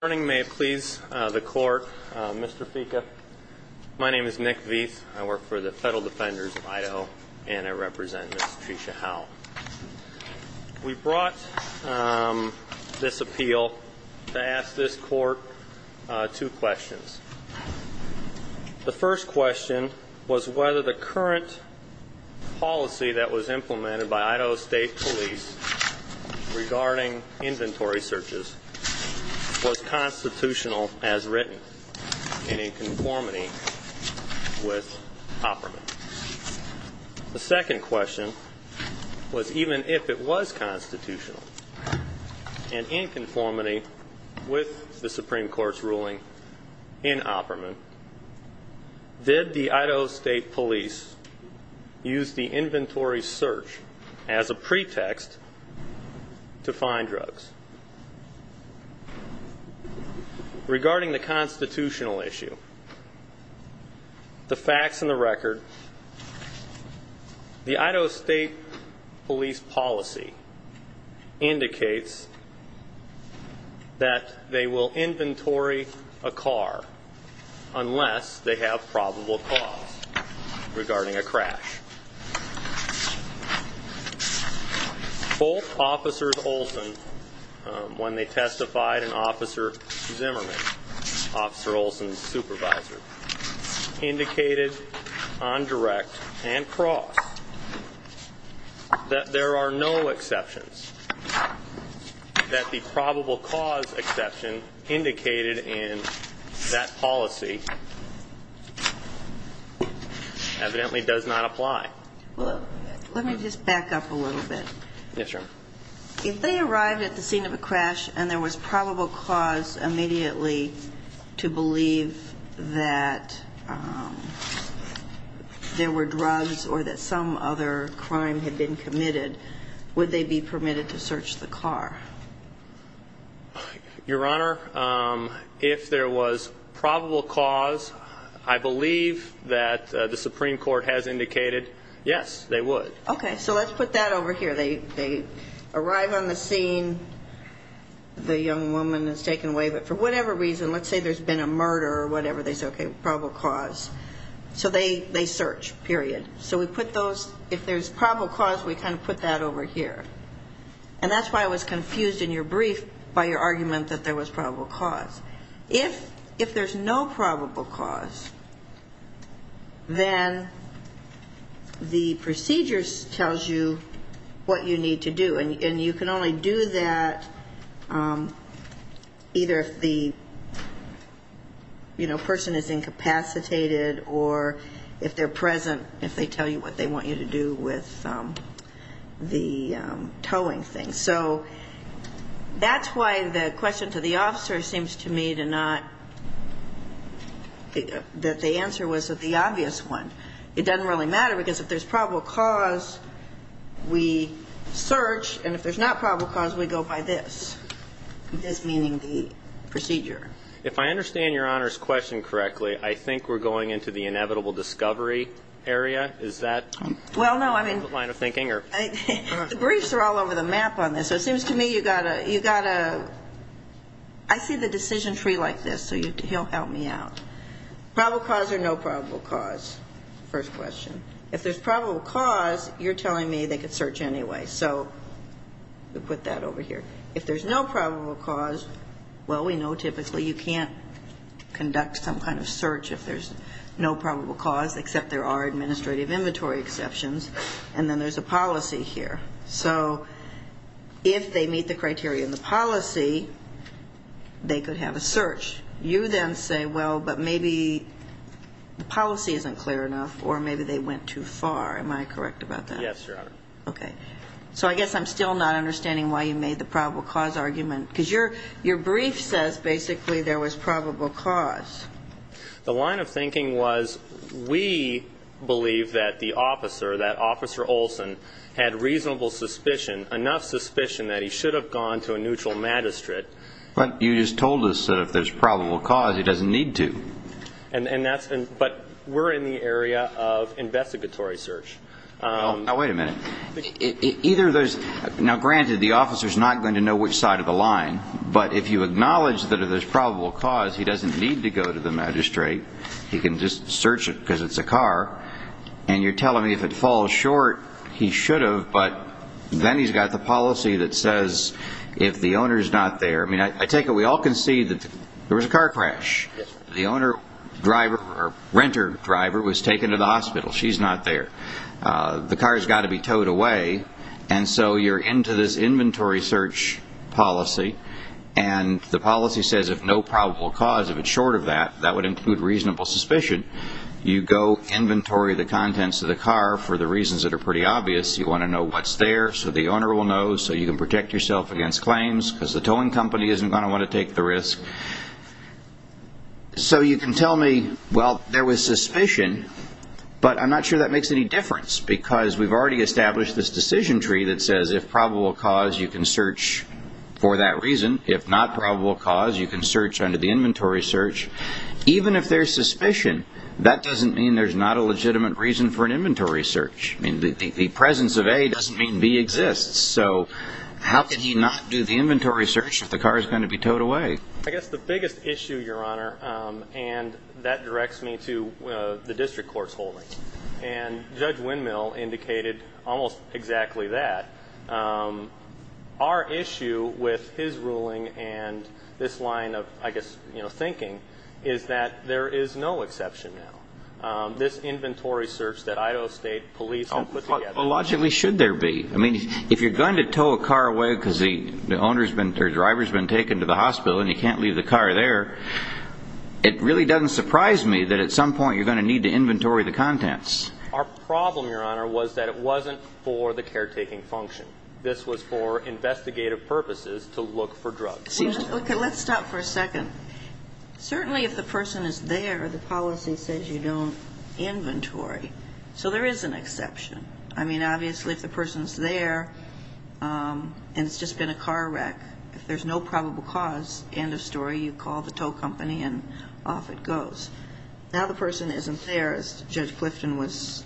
Good morning. May it please the Court, Mr. Ficca. My name is Nick Veith. I work for the Federal Defenders of Idaho and I represent Ms. Tresha Howell. We brought this appeal to ask this Court two questions. The first question was whether the current policy that the Idaho State Police regarding inventory searches was constitutional as written and in conformity with Opperman. The second question was even if it was constitutional and in conformity with the Supreme Court's ruling in Opperman, did the Idaho State Police use the inventory search as a pretext to find drugs. Regarding the constitutional issue, the facts and the record, the Idaho State Police policy indicates that they will inventory a car unless they have probable cause regarding a crash. Both Officers Olson, when they testified, and Officer Zimmerman, Officer Olson's supervisor, indicated on direct and cross that there are no exceptions. That the probable cause exception indicated in that policy evidently does not apply. Let me just back up a little bit. Yes, Your Honor. If they arrived at the scene of a crash and there was probable cause immediately to believe that there were drugs or that some other crime had been committed to search the car. Your Honor, if there was probable cause, I believe that the Supreme Court has indicated, yes, they would. Okay, so let's put that over here. They arrive on the scene, the young woman is taken away, but for whatever reason, let's say there's been a murder or whatever, they say, okay, probable cause. So they search, period. So we put those, if there's probable cause, we kind of put that over here. And that's why I was confused in your brief by your argument that there was probable cause. If there's no probable cause, then the procedure tells you what you need to do. And you can only do that either if the person is incapacitated or if they're present, if they tell you what they want you to do with the towing thing. So that's why the question to the officer seems to me to not that the answer was the obvious one. It doesn't really matter because if there's probable cause, we search. And if there's not probable cause, we go by this, this meaning the procedure. If I understand Your Honor's question correctly, I think we're going into the inevitable discovery area. Is that the line of thinking? Well, no, I mean, the briefs are all over the map on this. So it seems to me you've got to, I see the decision tree like this, so he'll help me out. Probable cause or no probable cause, first question. If there's probable cause, you're telling me they could search anyway. So we put that over here. If there's no probable cause, well, we know typically you can't conduct some kind of search if there's no probable cause except there are administrative inventory exceptions, and then there's a policy here. So if they meet the criteria in the policy, they could have a search. You then say, well, but maybe the policy isn't clear enough or maybe they went too far. Am I correct about that? Yes, Your Honor. Okay. So I guess I'm still not understanding why you made the probable cause argument, because your brief says basically there was probable cause. The line of thinking was we believe that the officer, that Officer Olson, had reasonable suspicion, enough suspicion that he should have gone to a neutral magistrate. But you just told us that if there's probable cause, he doesn't need to. But we're in the area of investigatory search. Now, wait a minute. Now, granted, the officer's not going to know which side of the line, but if you acknowledge that there's probable cause, he doesn't need to go to the magistrate. He can just search it because it's a car. And you're telling me if it falls short, he should have, but then he's got the policy that says if the owner's not there. I mean, I take it we all can see that there was a car crash. The owner driver or renter driver was taken to the hospital. She's not there. The car's got to be towed away, and so you're into this inventory search policy, and the policy says if no probable cause, if it's short of that, that would include reasonable suspicion. You go inventory the contents of the car for the reasons that are pretty obvious. You want to know what's there so the owner will know, so you can protect yourself against claims because the towing company isn't going to want to take the risk. So you can tell me, well, there was suspicion, but I'm not sure that makes any difference because we've already established this decision tree that says if probable cause, you can search for that reason. If not probable cause, you can search under the inventory search. Even if there's suspicion, that doesn't mean there's not a legitimate reason for an inventory search. I mean, the presence of A doesn't mean B exists, so how could he not do the inventory search if the car is going to be towed away? I guess the biggest issue, Your Honor, and that directs me to the district court's holding, and Judge Windmill indicated almost exactly that. Our issue with his ruling and this line of, I guess, you know, thinking is that there is no exception now. This inventory search that Idaho State Police have put together. Well, logically, should there be? I mean, if you're going to tow a car away because the driver's been taken to the hospital and you can't leave the car there, it really doesn't surprise me that at some point you're going to need to inventory the contents. Our problem, Your Honor, was that it wasn't for the caretaking function. This was for investigative purposes to look for drugs. Okay, let's stop for a second. Certainly if the person is there, the policy says you don't inventory. So there is an exception. I mean, obviously if the person's there and it's just been a car wreck, if there's no probable cause, end of story, you call the tow company and off it goes. Now the person isn't there, as Judge Clifton was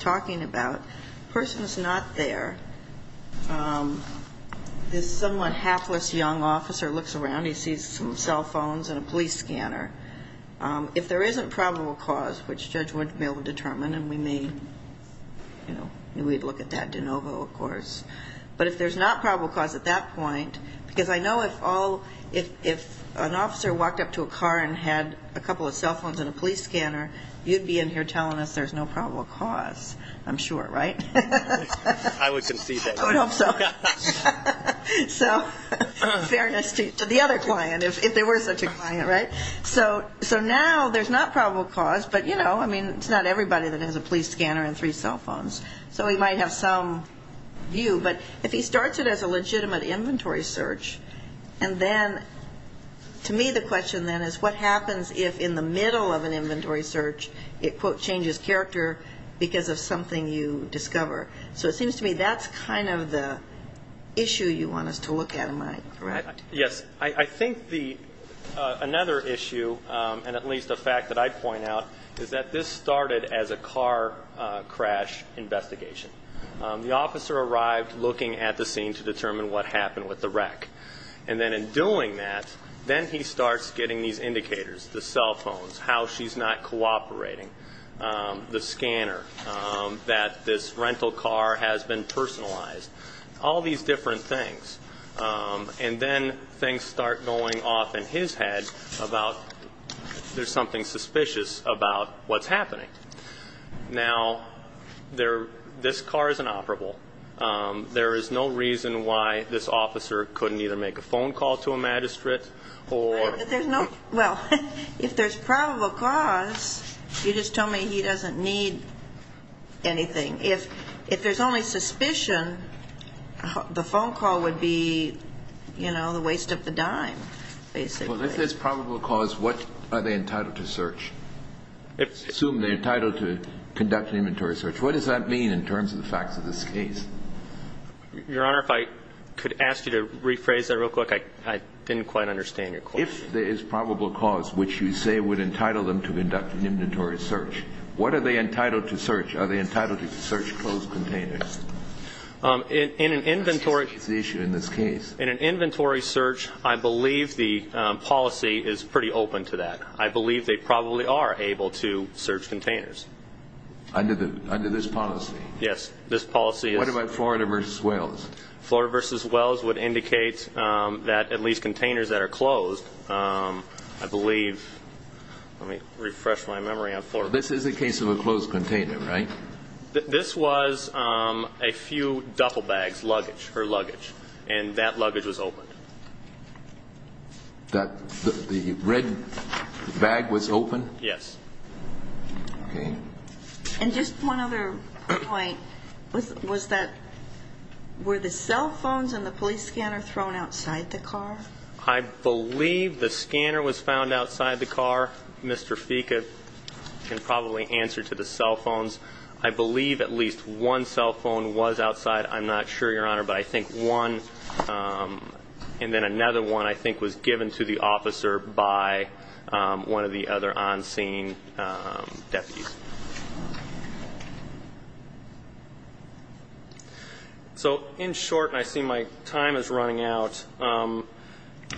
talking about. The person is not there. This somewhat hapless young officer looks around. He sees some cell phones and a police scanner. If there is a probable cause, which Judge Winch would be able to determine, and we may look at that de novo, of course, but if there's not probable cause at that point, because I know if an officer walked up to a car and had a couple of cell phones and a police scanner, you'd be in here telling us there's no probable cause, I'm sure, right? I would concede that. I would hope so. So fairness to the other client, if there were such a client, right? So now there's not probable cause, but, you know, I mean it's not everybody that has a police scanner and three cell phones. So he might have some view. But if he starts it as a legitimate inventory search, and then to me the question then is what happens if in the middle of an inventory search it, quote, changes character because of something you discover. So it seems to me that's kind of the issue you want us to look at, am I correct? Yes. I think another issue, and at least a fact that I'd point out, is that this started as a car crash investigation. The officer arrived looking at the scene to determine what happened with the wreck. And then in doing that, then he starts getting these indicators, the cell phones, how she's not cooperating, the scanner, that this rental car has been personalized, all these different things. And then things start going off in his head about there's something suspicious about what's happening. Now, this car isn't operable. There is no reason why this officer couldn't either make a phone call to a magistrate or... If there's probable cause, you just told me he doesn't need anything. If there's only suspicion, the phone call would be, you know, the waste of the dime, basically. Well, if there's probable cause, what are they entitled to search? Assume they're entitled to conduct an inventory search. What does that mean in terms of the facts of this case? Your Honor, if I could ask you to rephrase that real quick. I didn't quite understand your question. If there is probable cause which you say would entitle them to conduct an inventory search, what are they entitled to search? Are they entitled to search closed containers? That's the issue in this case. In an inventory search, I believe the policy is pretty open to that. I believe they probably are able to search containers. Under this policy? Yes, this policy is... What about Florida v. Wells? Florida v. Wells would indicate that at least containers that are closed, I believe... Let me refresh my memory on Florida v. Wells. This is a case of a closed container, right? This was a few duffel bags, luggage, her luggage, and that luggage was open. The red bag was open? Yes. Okay. Just one other point. Was that... Were the cell phones and the police scanner thrown outside the car? I believe the scanner was found outside the car. Mr. Fica can probably answer to the cell phones. I believe at least one cell phone was outside. I'm not sure, Your Honor, but I think one... So, in short, and I see my time is running out...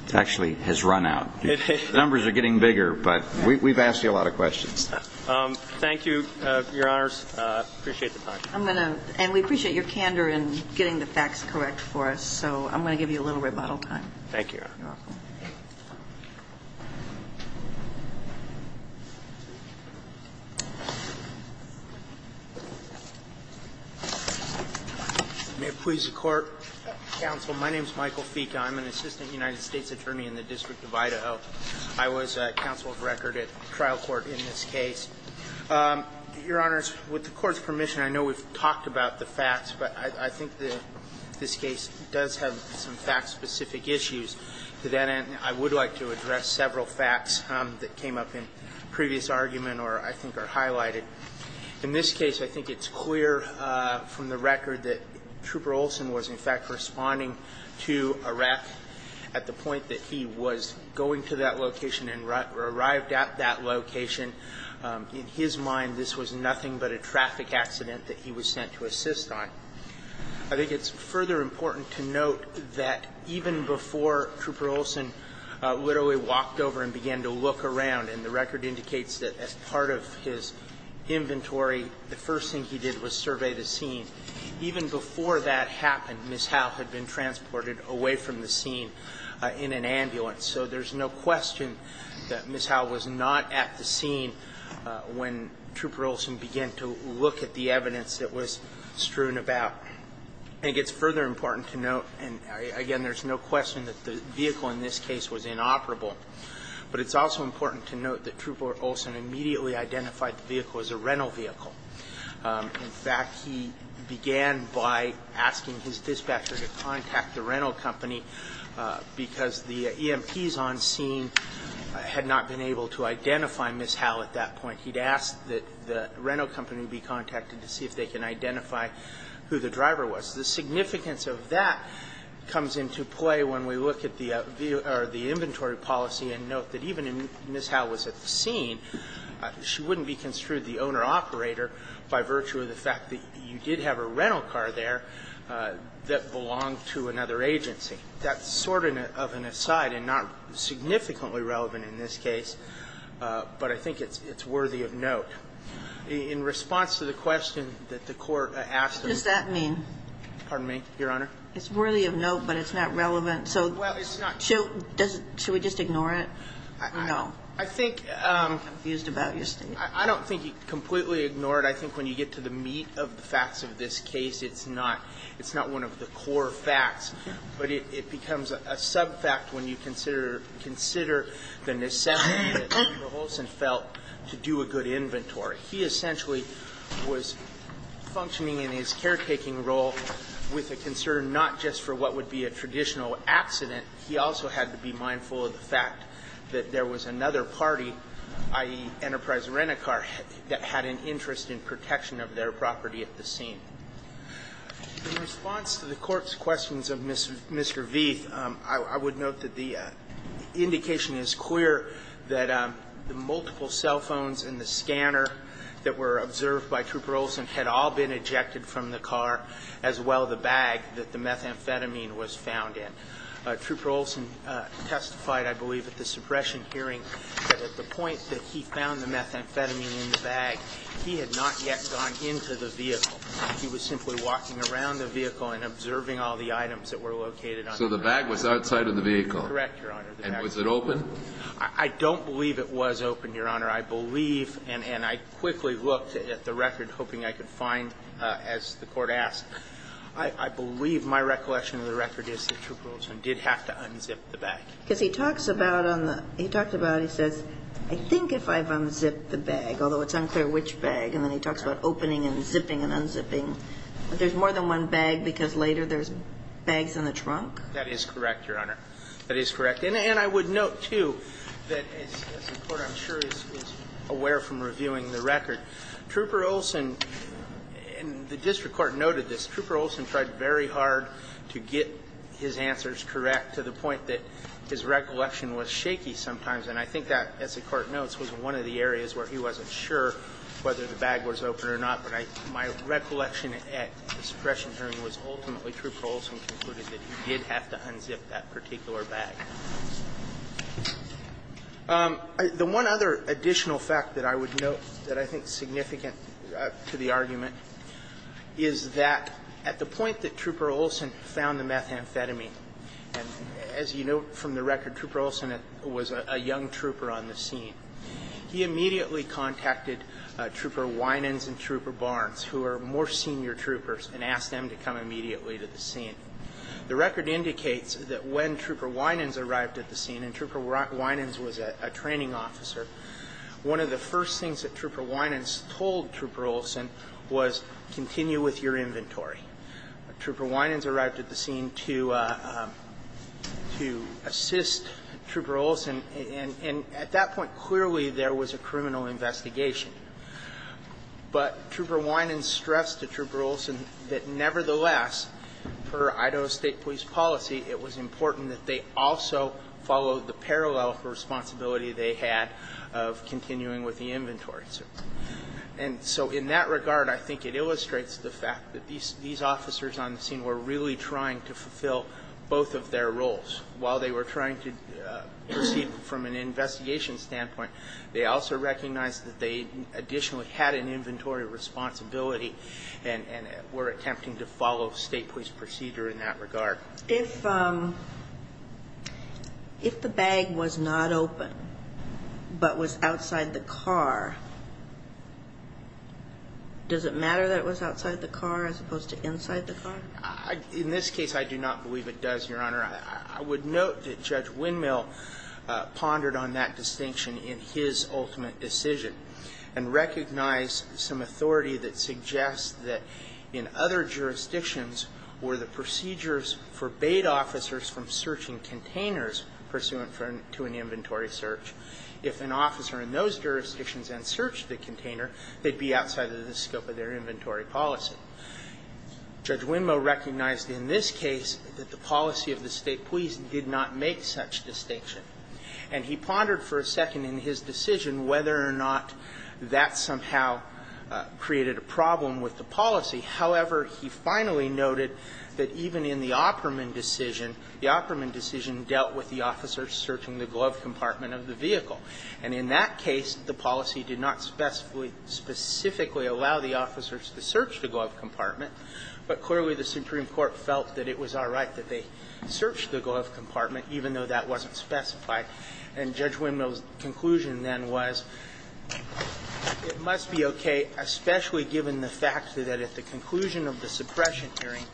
It actually has run out. The numbers are getting bigger, but we've asked you a lot of questions. Thank you, Your Honors. I appreciate the time. I'm going to... And we appreciate your candor in getting the facts correct for us, so I'm going to give you a little rebuttal time. Thank you, Your Honor. You're welcome. May it please the Court. Counsel, my name is Michael Fica. I'm an assistant United States attorney in the District of Idaho. I was counsel of record at trial court in this case. Your Honors, with the Court's permission, I know we've talked about the facts, but I think this case does have some fact-specific issues. To that end, I would like to address several facts that came up in previous argument or I think are highlighted. In this case, I think it's clear from the record that Trooper Olson was, in fact, responding to a wreck at the point that he was going to that location and arrived at that location. In his mind, this was nothing but a traffic accident that he was sent to assist on. I think it's further important to note that even before Trooper Olson literally walked over and began to look around, and the record indicates that as part of his inventory, the first thing he did was survey the scene, even before that happened, Ms. Howe had been transported away from the scene in an ambulance. So there's no question that Ms. Howe was not at the scene when Trooper Olson began to look at the evidence that was strewn about. I think it's further important to note, and again, there's no question that the vehicle in this case was inoperable, but it's also important to note that Trooper Olson immediately identified the vehicle as a rental vehicle. In fact, he began by asking his dispatcher to contact the rental company because the EMPs on scene had not been able to identify Ms. Howe at that point. He'd asked that the rental company be contacted to see if they can identify who the driver was. The significance of that comes into play when we look at the inventory policy and note that even if Ms. Howe was at the scene, she wouldn't be construed the owner-operator by virtue of the fact that you did have a rental car there that belonged to another agency. So I think that's sort of an aside and not significantly relevant in this case, but I think it's worthy of note. In response to the question that the Court asked of me. What does that mean? Pardon me, Your Honor? It's worthy of note, but it's not relevant. Well, it's not. So should we just ignore it? No. I think. I'm confused about your statement. I don't think you completely ignore it. I think when you get to the meat of the facts of this case, it's not one of the core facts. But it becomes a sub-fact when you consider the necessity that Mr. Holson felt to do a good inventory. He essentially was functioning in his caretaking role with a concern not just for what would be a traditional accident. He also had to be mindful of the fact that there was another party, i.e., Enterprise Rent-A-Car, that had an interest in protection of their property at the scene. In response to the Court's questions of Mr. Vieth, I would note that the indication is clear that the multiple cell phones and the scanner that were observed by Trooper Olson had all been ejected from the car, as well the bag that the methamphetamine was found in. Trooper Olson testified, I believe, at the suppression hearing that at the point that he found the methamphetamine in the bag, he had not yet gone into the vehicle. He was simply walking around the vehicle and observing all the items that were located under the bag. So the bag was outside of the vehicle. Correct, Your Honor. And was it open? I don't believe it was open, Your Honor. I believe, and I quickly looked at the record, hoping I could find, as the Court asked, I believe my recollection of the record is that Trooper Olson did have to unzip the bag. Because he talks about on the – he talks about, he says, I think if I've unzipped the bag, although it's unclear which bag, and then he talks about opening and zipping and unzipping. But there's more than one bag because later there's bags in the trunk? That is correct, Your Honor. That is correct. And I would note, too, that as the Court, I'm sure, is aware from reviewing the record, Trooper Olson – and the district court noted this – Trooper Olson tried very hard to get his answers correct to the point that his recollection was shaky sometimes, and I think that, as the Court notes, was one of the areas where he wasn't sure whether the bag was open or not. But my recollection at discretion hearing was ultimately Trooper Olson concluded that he did have to unzip that particular bag. The one other additional fact that I would note that I think is significant to the argument is that at the point that Trooper Olson found the methamphetamine – and as you note from the record, Trooper Olson was a young trooper on the scene – he immediately contacted Trooper Winans and Trooper Barnes, who are more senior troopers, and asked them to come immediately to the scene. The record indicates that when Trooper Winans arrived at the scene – and Trooper Winans was a training officer – one of the first things that Trooper Winans told Trooper Olson was, continue with your inventory. Trooper Winans arrived at the scene to assist Trooper Olson, and at that point clearly there was a criminal investigation. But Trooper Winans stressed to Trooper Olson that nevertheless, per Idaho State Police policy, it was important that they also follow the parallel responsibility they had of continuing with the inventory. And so in that regard, I think it illustrates the fact that these officers on the scene were really trying to fulfill both of their roles. While they were trying to proceed from an investigation standpoint, they also recognized that they additionally had an inventory responsibility and were attempting to follow State Police procedure in that regard. If the bag was not open but was outside the car, does it matter that it was outside the car as opposed to inside the car? In this case, I do not believe it does, Your Honor. I would note that Judge Windmill pondered on that distinction in his ultimate decision and recognized some authority that suggests that in other jurisdictions were the procedures forbade officers from searching containers pursuant to an inventory search. If an officer in those jurisdictions had searched the container, they'd be outside of the scope of their inventory policy. Judge Windmill recognized in this case that the policy of the State Police did not make such distinction. And he pondered for a second in his decision whether or not that somehow created a problem with the policy. However, he finally noted that even in the Opperman decision, the Opperman decision dealt with the officers searching the glove compartment of the vehicle. And in that case, the policy did not specifically allow the officers to search the glove compartment. But clearly, the Supreme Court felt that it was all right that they searched the glove compartment, even though that wasn't specified. And Judge Windmill's conclusion then was it must be okay, especially given the fact that at the conclusion of the suppression hearing,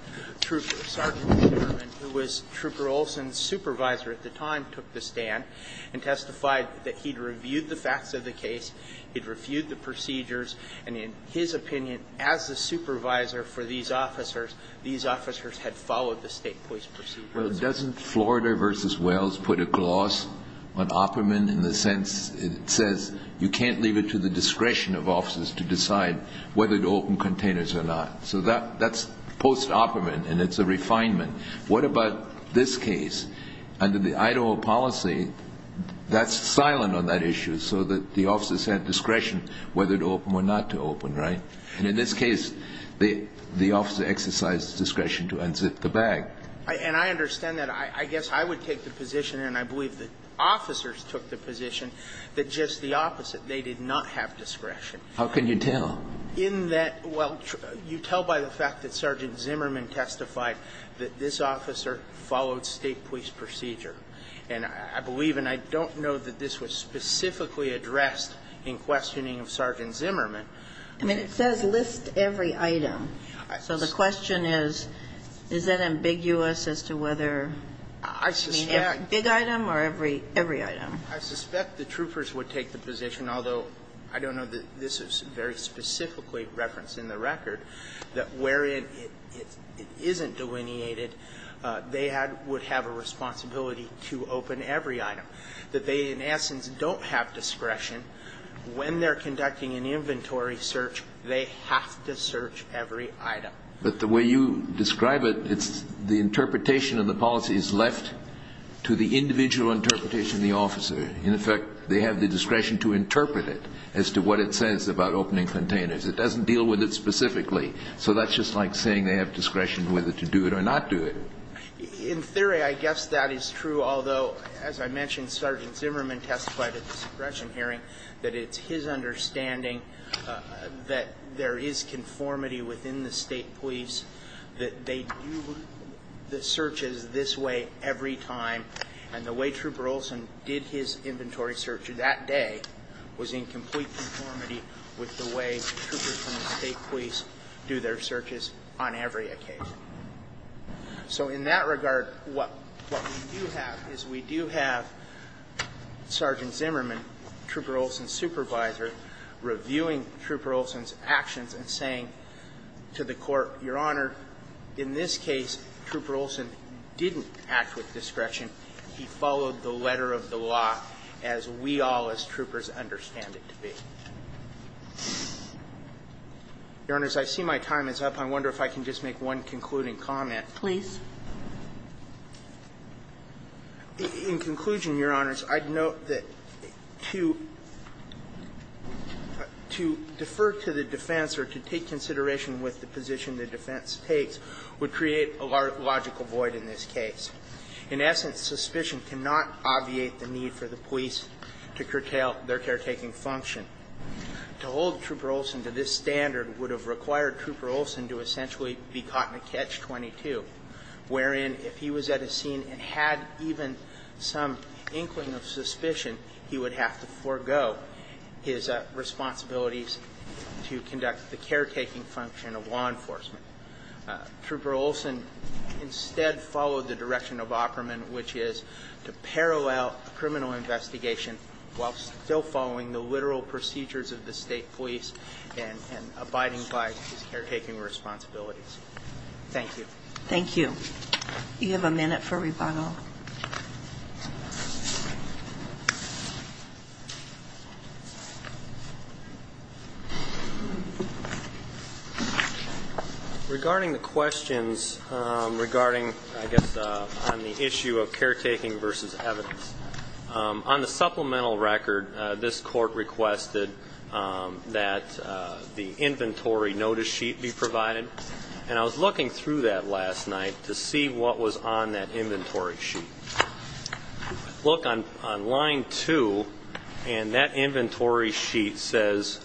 Trooper Sergeant Sherman, who was Trooper Olson's supervisor at the time, took the stand and testified that he'd reviewed the facts of the case, he'd reviewed the procedures, and in his opinion, as the supervisor for these officers, these officers had followed the State Police procedure. Well, doesn't Florida v. Wales put a gloss on Opperman in the sense it says you can't leave it to the discretion of officers to decide whether to open containers or not? So that's post-Opperman, and it's a refinement. What about this case? Under the Idaho policy, that's silent on that issue so that the officers had discretion whether to open or not to open, right? And in this case, the officer exercised discretion to unzip the bag. And I understand that. I guess I would take the position, and I believe that officers took the position, that just the opposite, they did not have discretion. How can you tell? In that, well, you tell by the fact that Sergeant Zimmerman testified that this officer followed State Police procedure. And I believe, and I don't know that this was specifically addressed in questioning of Sergeant Zimmerman. I mean, it says list every item. So the question is, is that ambiguous as to whether big item or every item? I suspect the troopers would take the position, although I don't know that this is very specifically referenced in the record, that wherein it isn't delineated, they would have a responsibility to open every item. That they, in essence, don't have discretion. When they're conducting an inventory search, they have to search every item. But the way you describe it, it's the interpretation of the policy is left to the individual interpretation of the officer. In effect, they have the discretion to interpret it as to what it says about opening containers. It doesn't deal with it specifically. So that's just like saying they have discretion whether to do it or not do it. In theory, I guess that is true, although, as I mentioned, Sergeant Zimmerman testified at the discretion hearing that it's his understanding that there is conformity within the state police, that they do the searches this way every time. And the way Trooper Olson did his inventory search that day was in complete conformity with the way troopers from the state police do their searches on every occasion. So in that regard, what we do have is we do have Sergeant Zimmerman, Trooper Olson's saying to the Court, Your Honor, in this case, Trooper Olson didn't act with discretion. He followed the letter of the law as we all, as troopers, understand it to be. Your Honors, I see my time is up. I wonder if I can just make one concluding comment. Please. In conclusion, Your Honors, I'd note that to defer to the defense or to defend or to take consideration with the position the defense takes would create a logical void in this case. In essence, suspicion cannot obviate the need for the police to curtail their caretaking function. To hold Trooper Olson to this standard would have required Trooper Olson to essentially be caught in a catch-22, wherein if he was at a scene and had even some inkling of suspicion, he would have to forego his responsibilities to conduct the caretaking function of law enforcement. Trooper Olson instead followed the direction of Ockerman, which is to parallel criminal investigation while still following the literal procedures of the state police and abiding by his caretaking responsibilities. Thank you. Thank you. You have a minute for rebuttal. Thank you, Your Honor. Regarding the questions regarding, I guess, on the issue of caretaking versus evidence, on the supplemental record this Court requested that the inventory notice sheet be provided, and I was looking through that last night to see what was on that inventory sheet. Look on line two, and that inventory sheet says,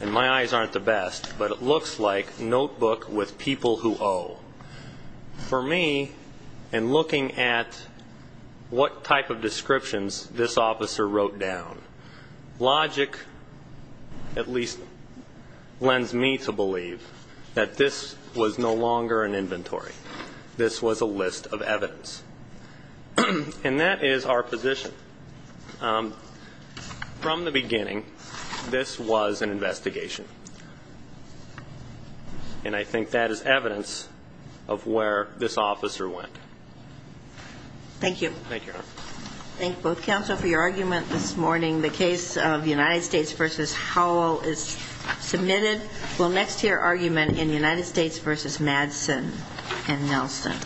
and my eyes aren't the best, but it looks like notebook with people who owe. For me, in looking at what type of descriptions this officer wrote down, logic at least lends me to believe that this was no longer an inventory. This was a list of evidence. And that is our position. From the beginning, this was an investigation, and I think that is evidence of where this officer went. Thank you. Thank you, Your Honor. Thank both counsel for your argument this morning. The case of United States v. Howell is submitted. We'll next hear argument in United States v. Madsen and Nelson.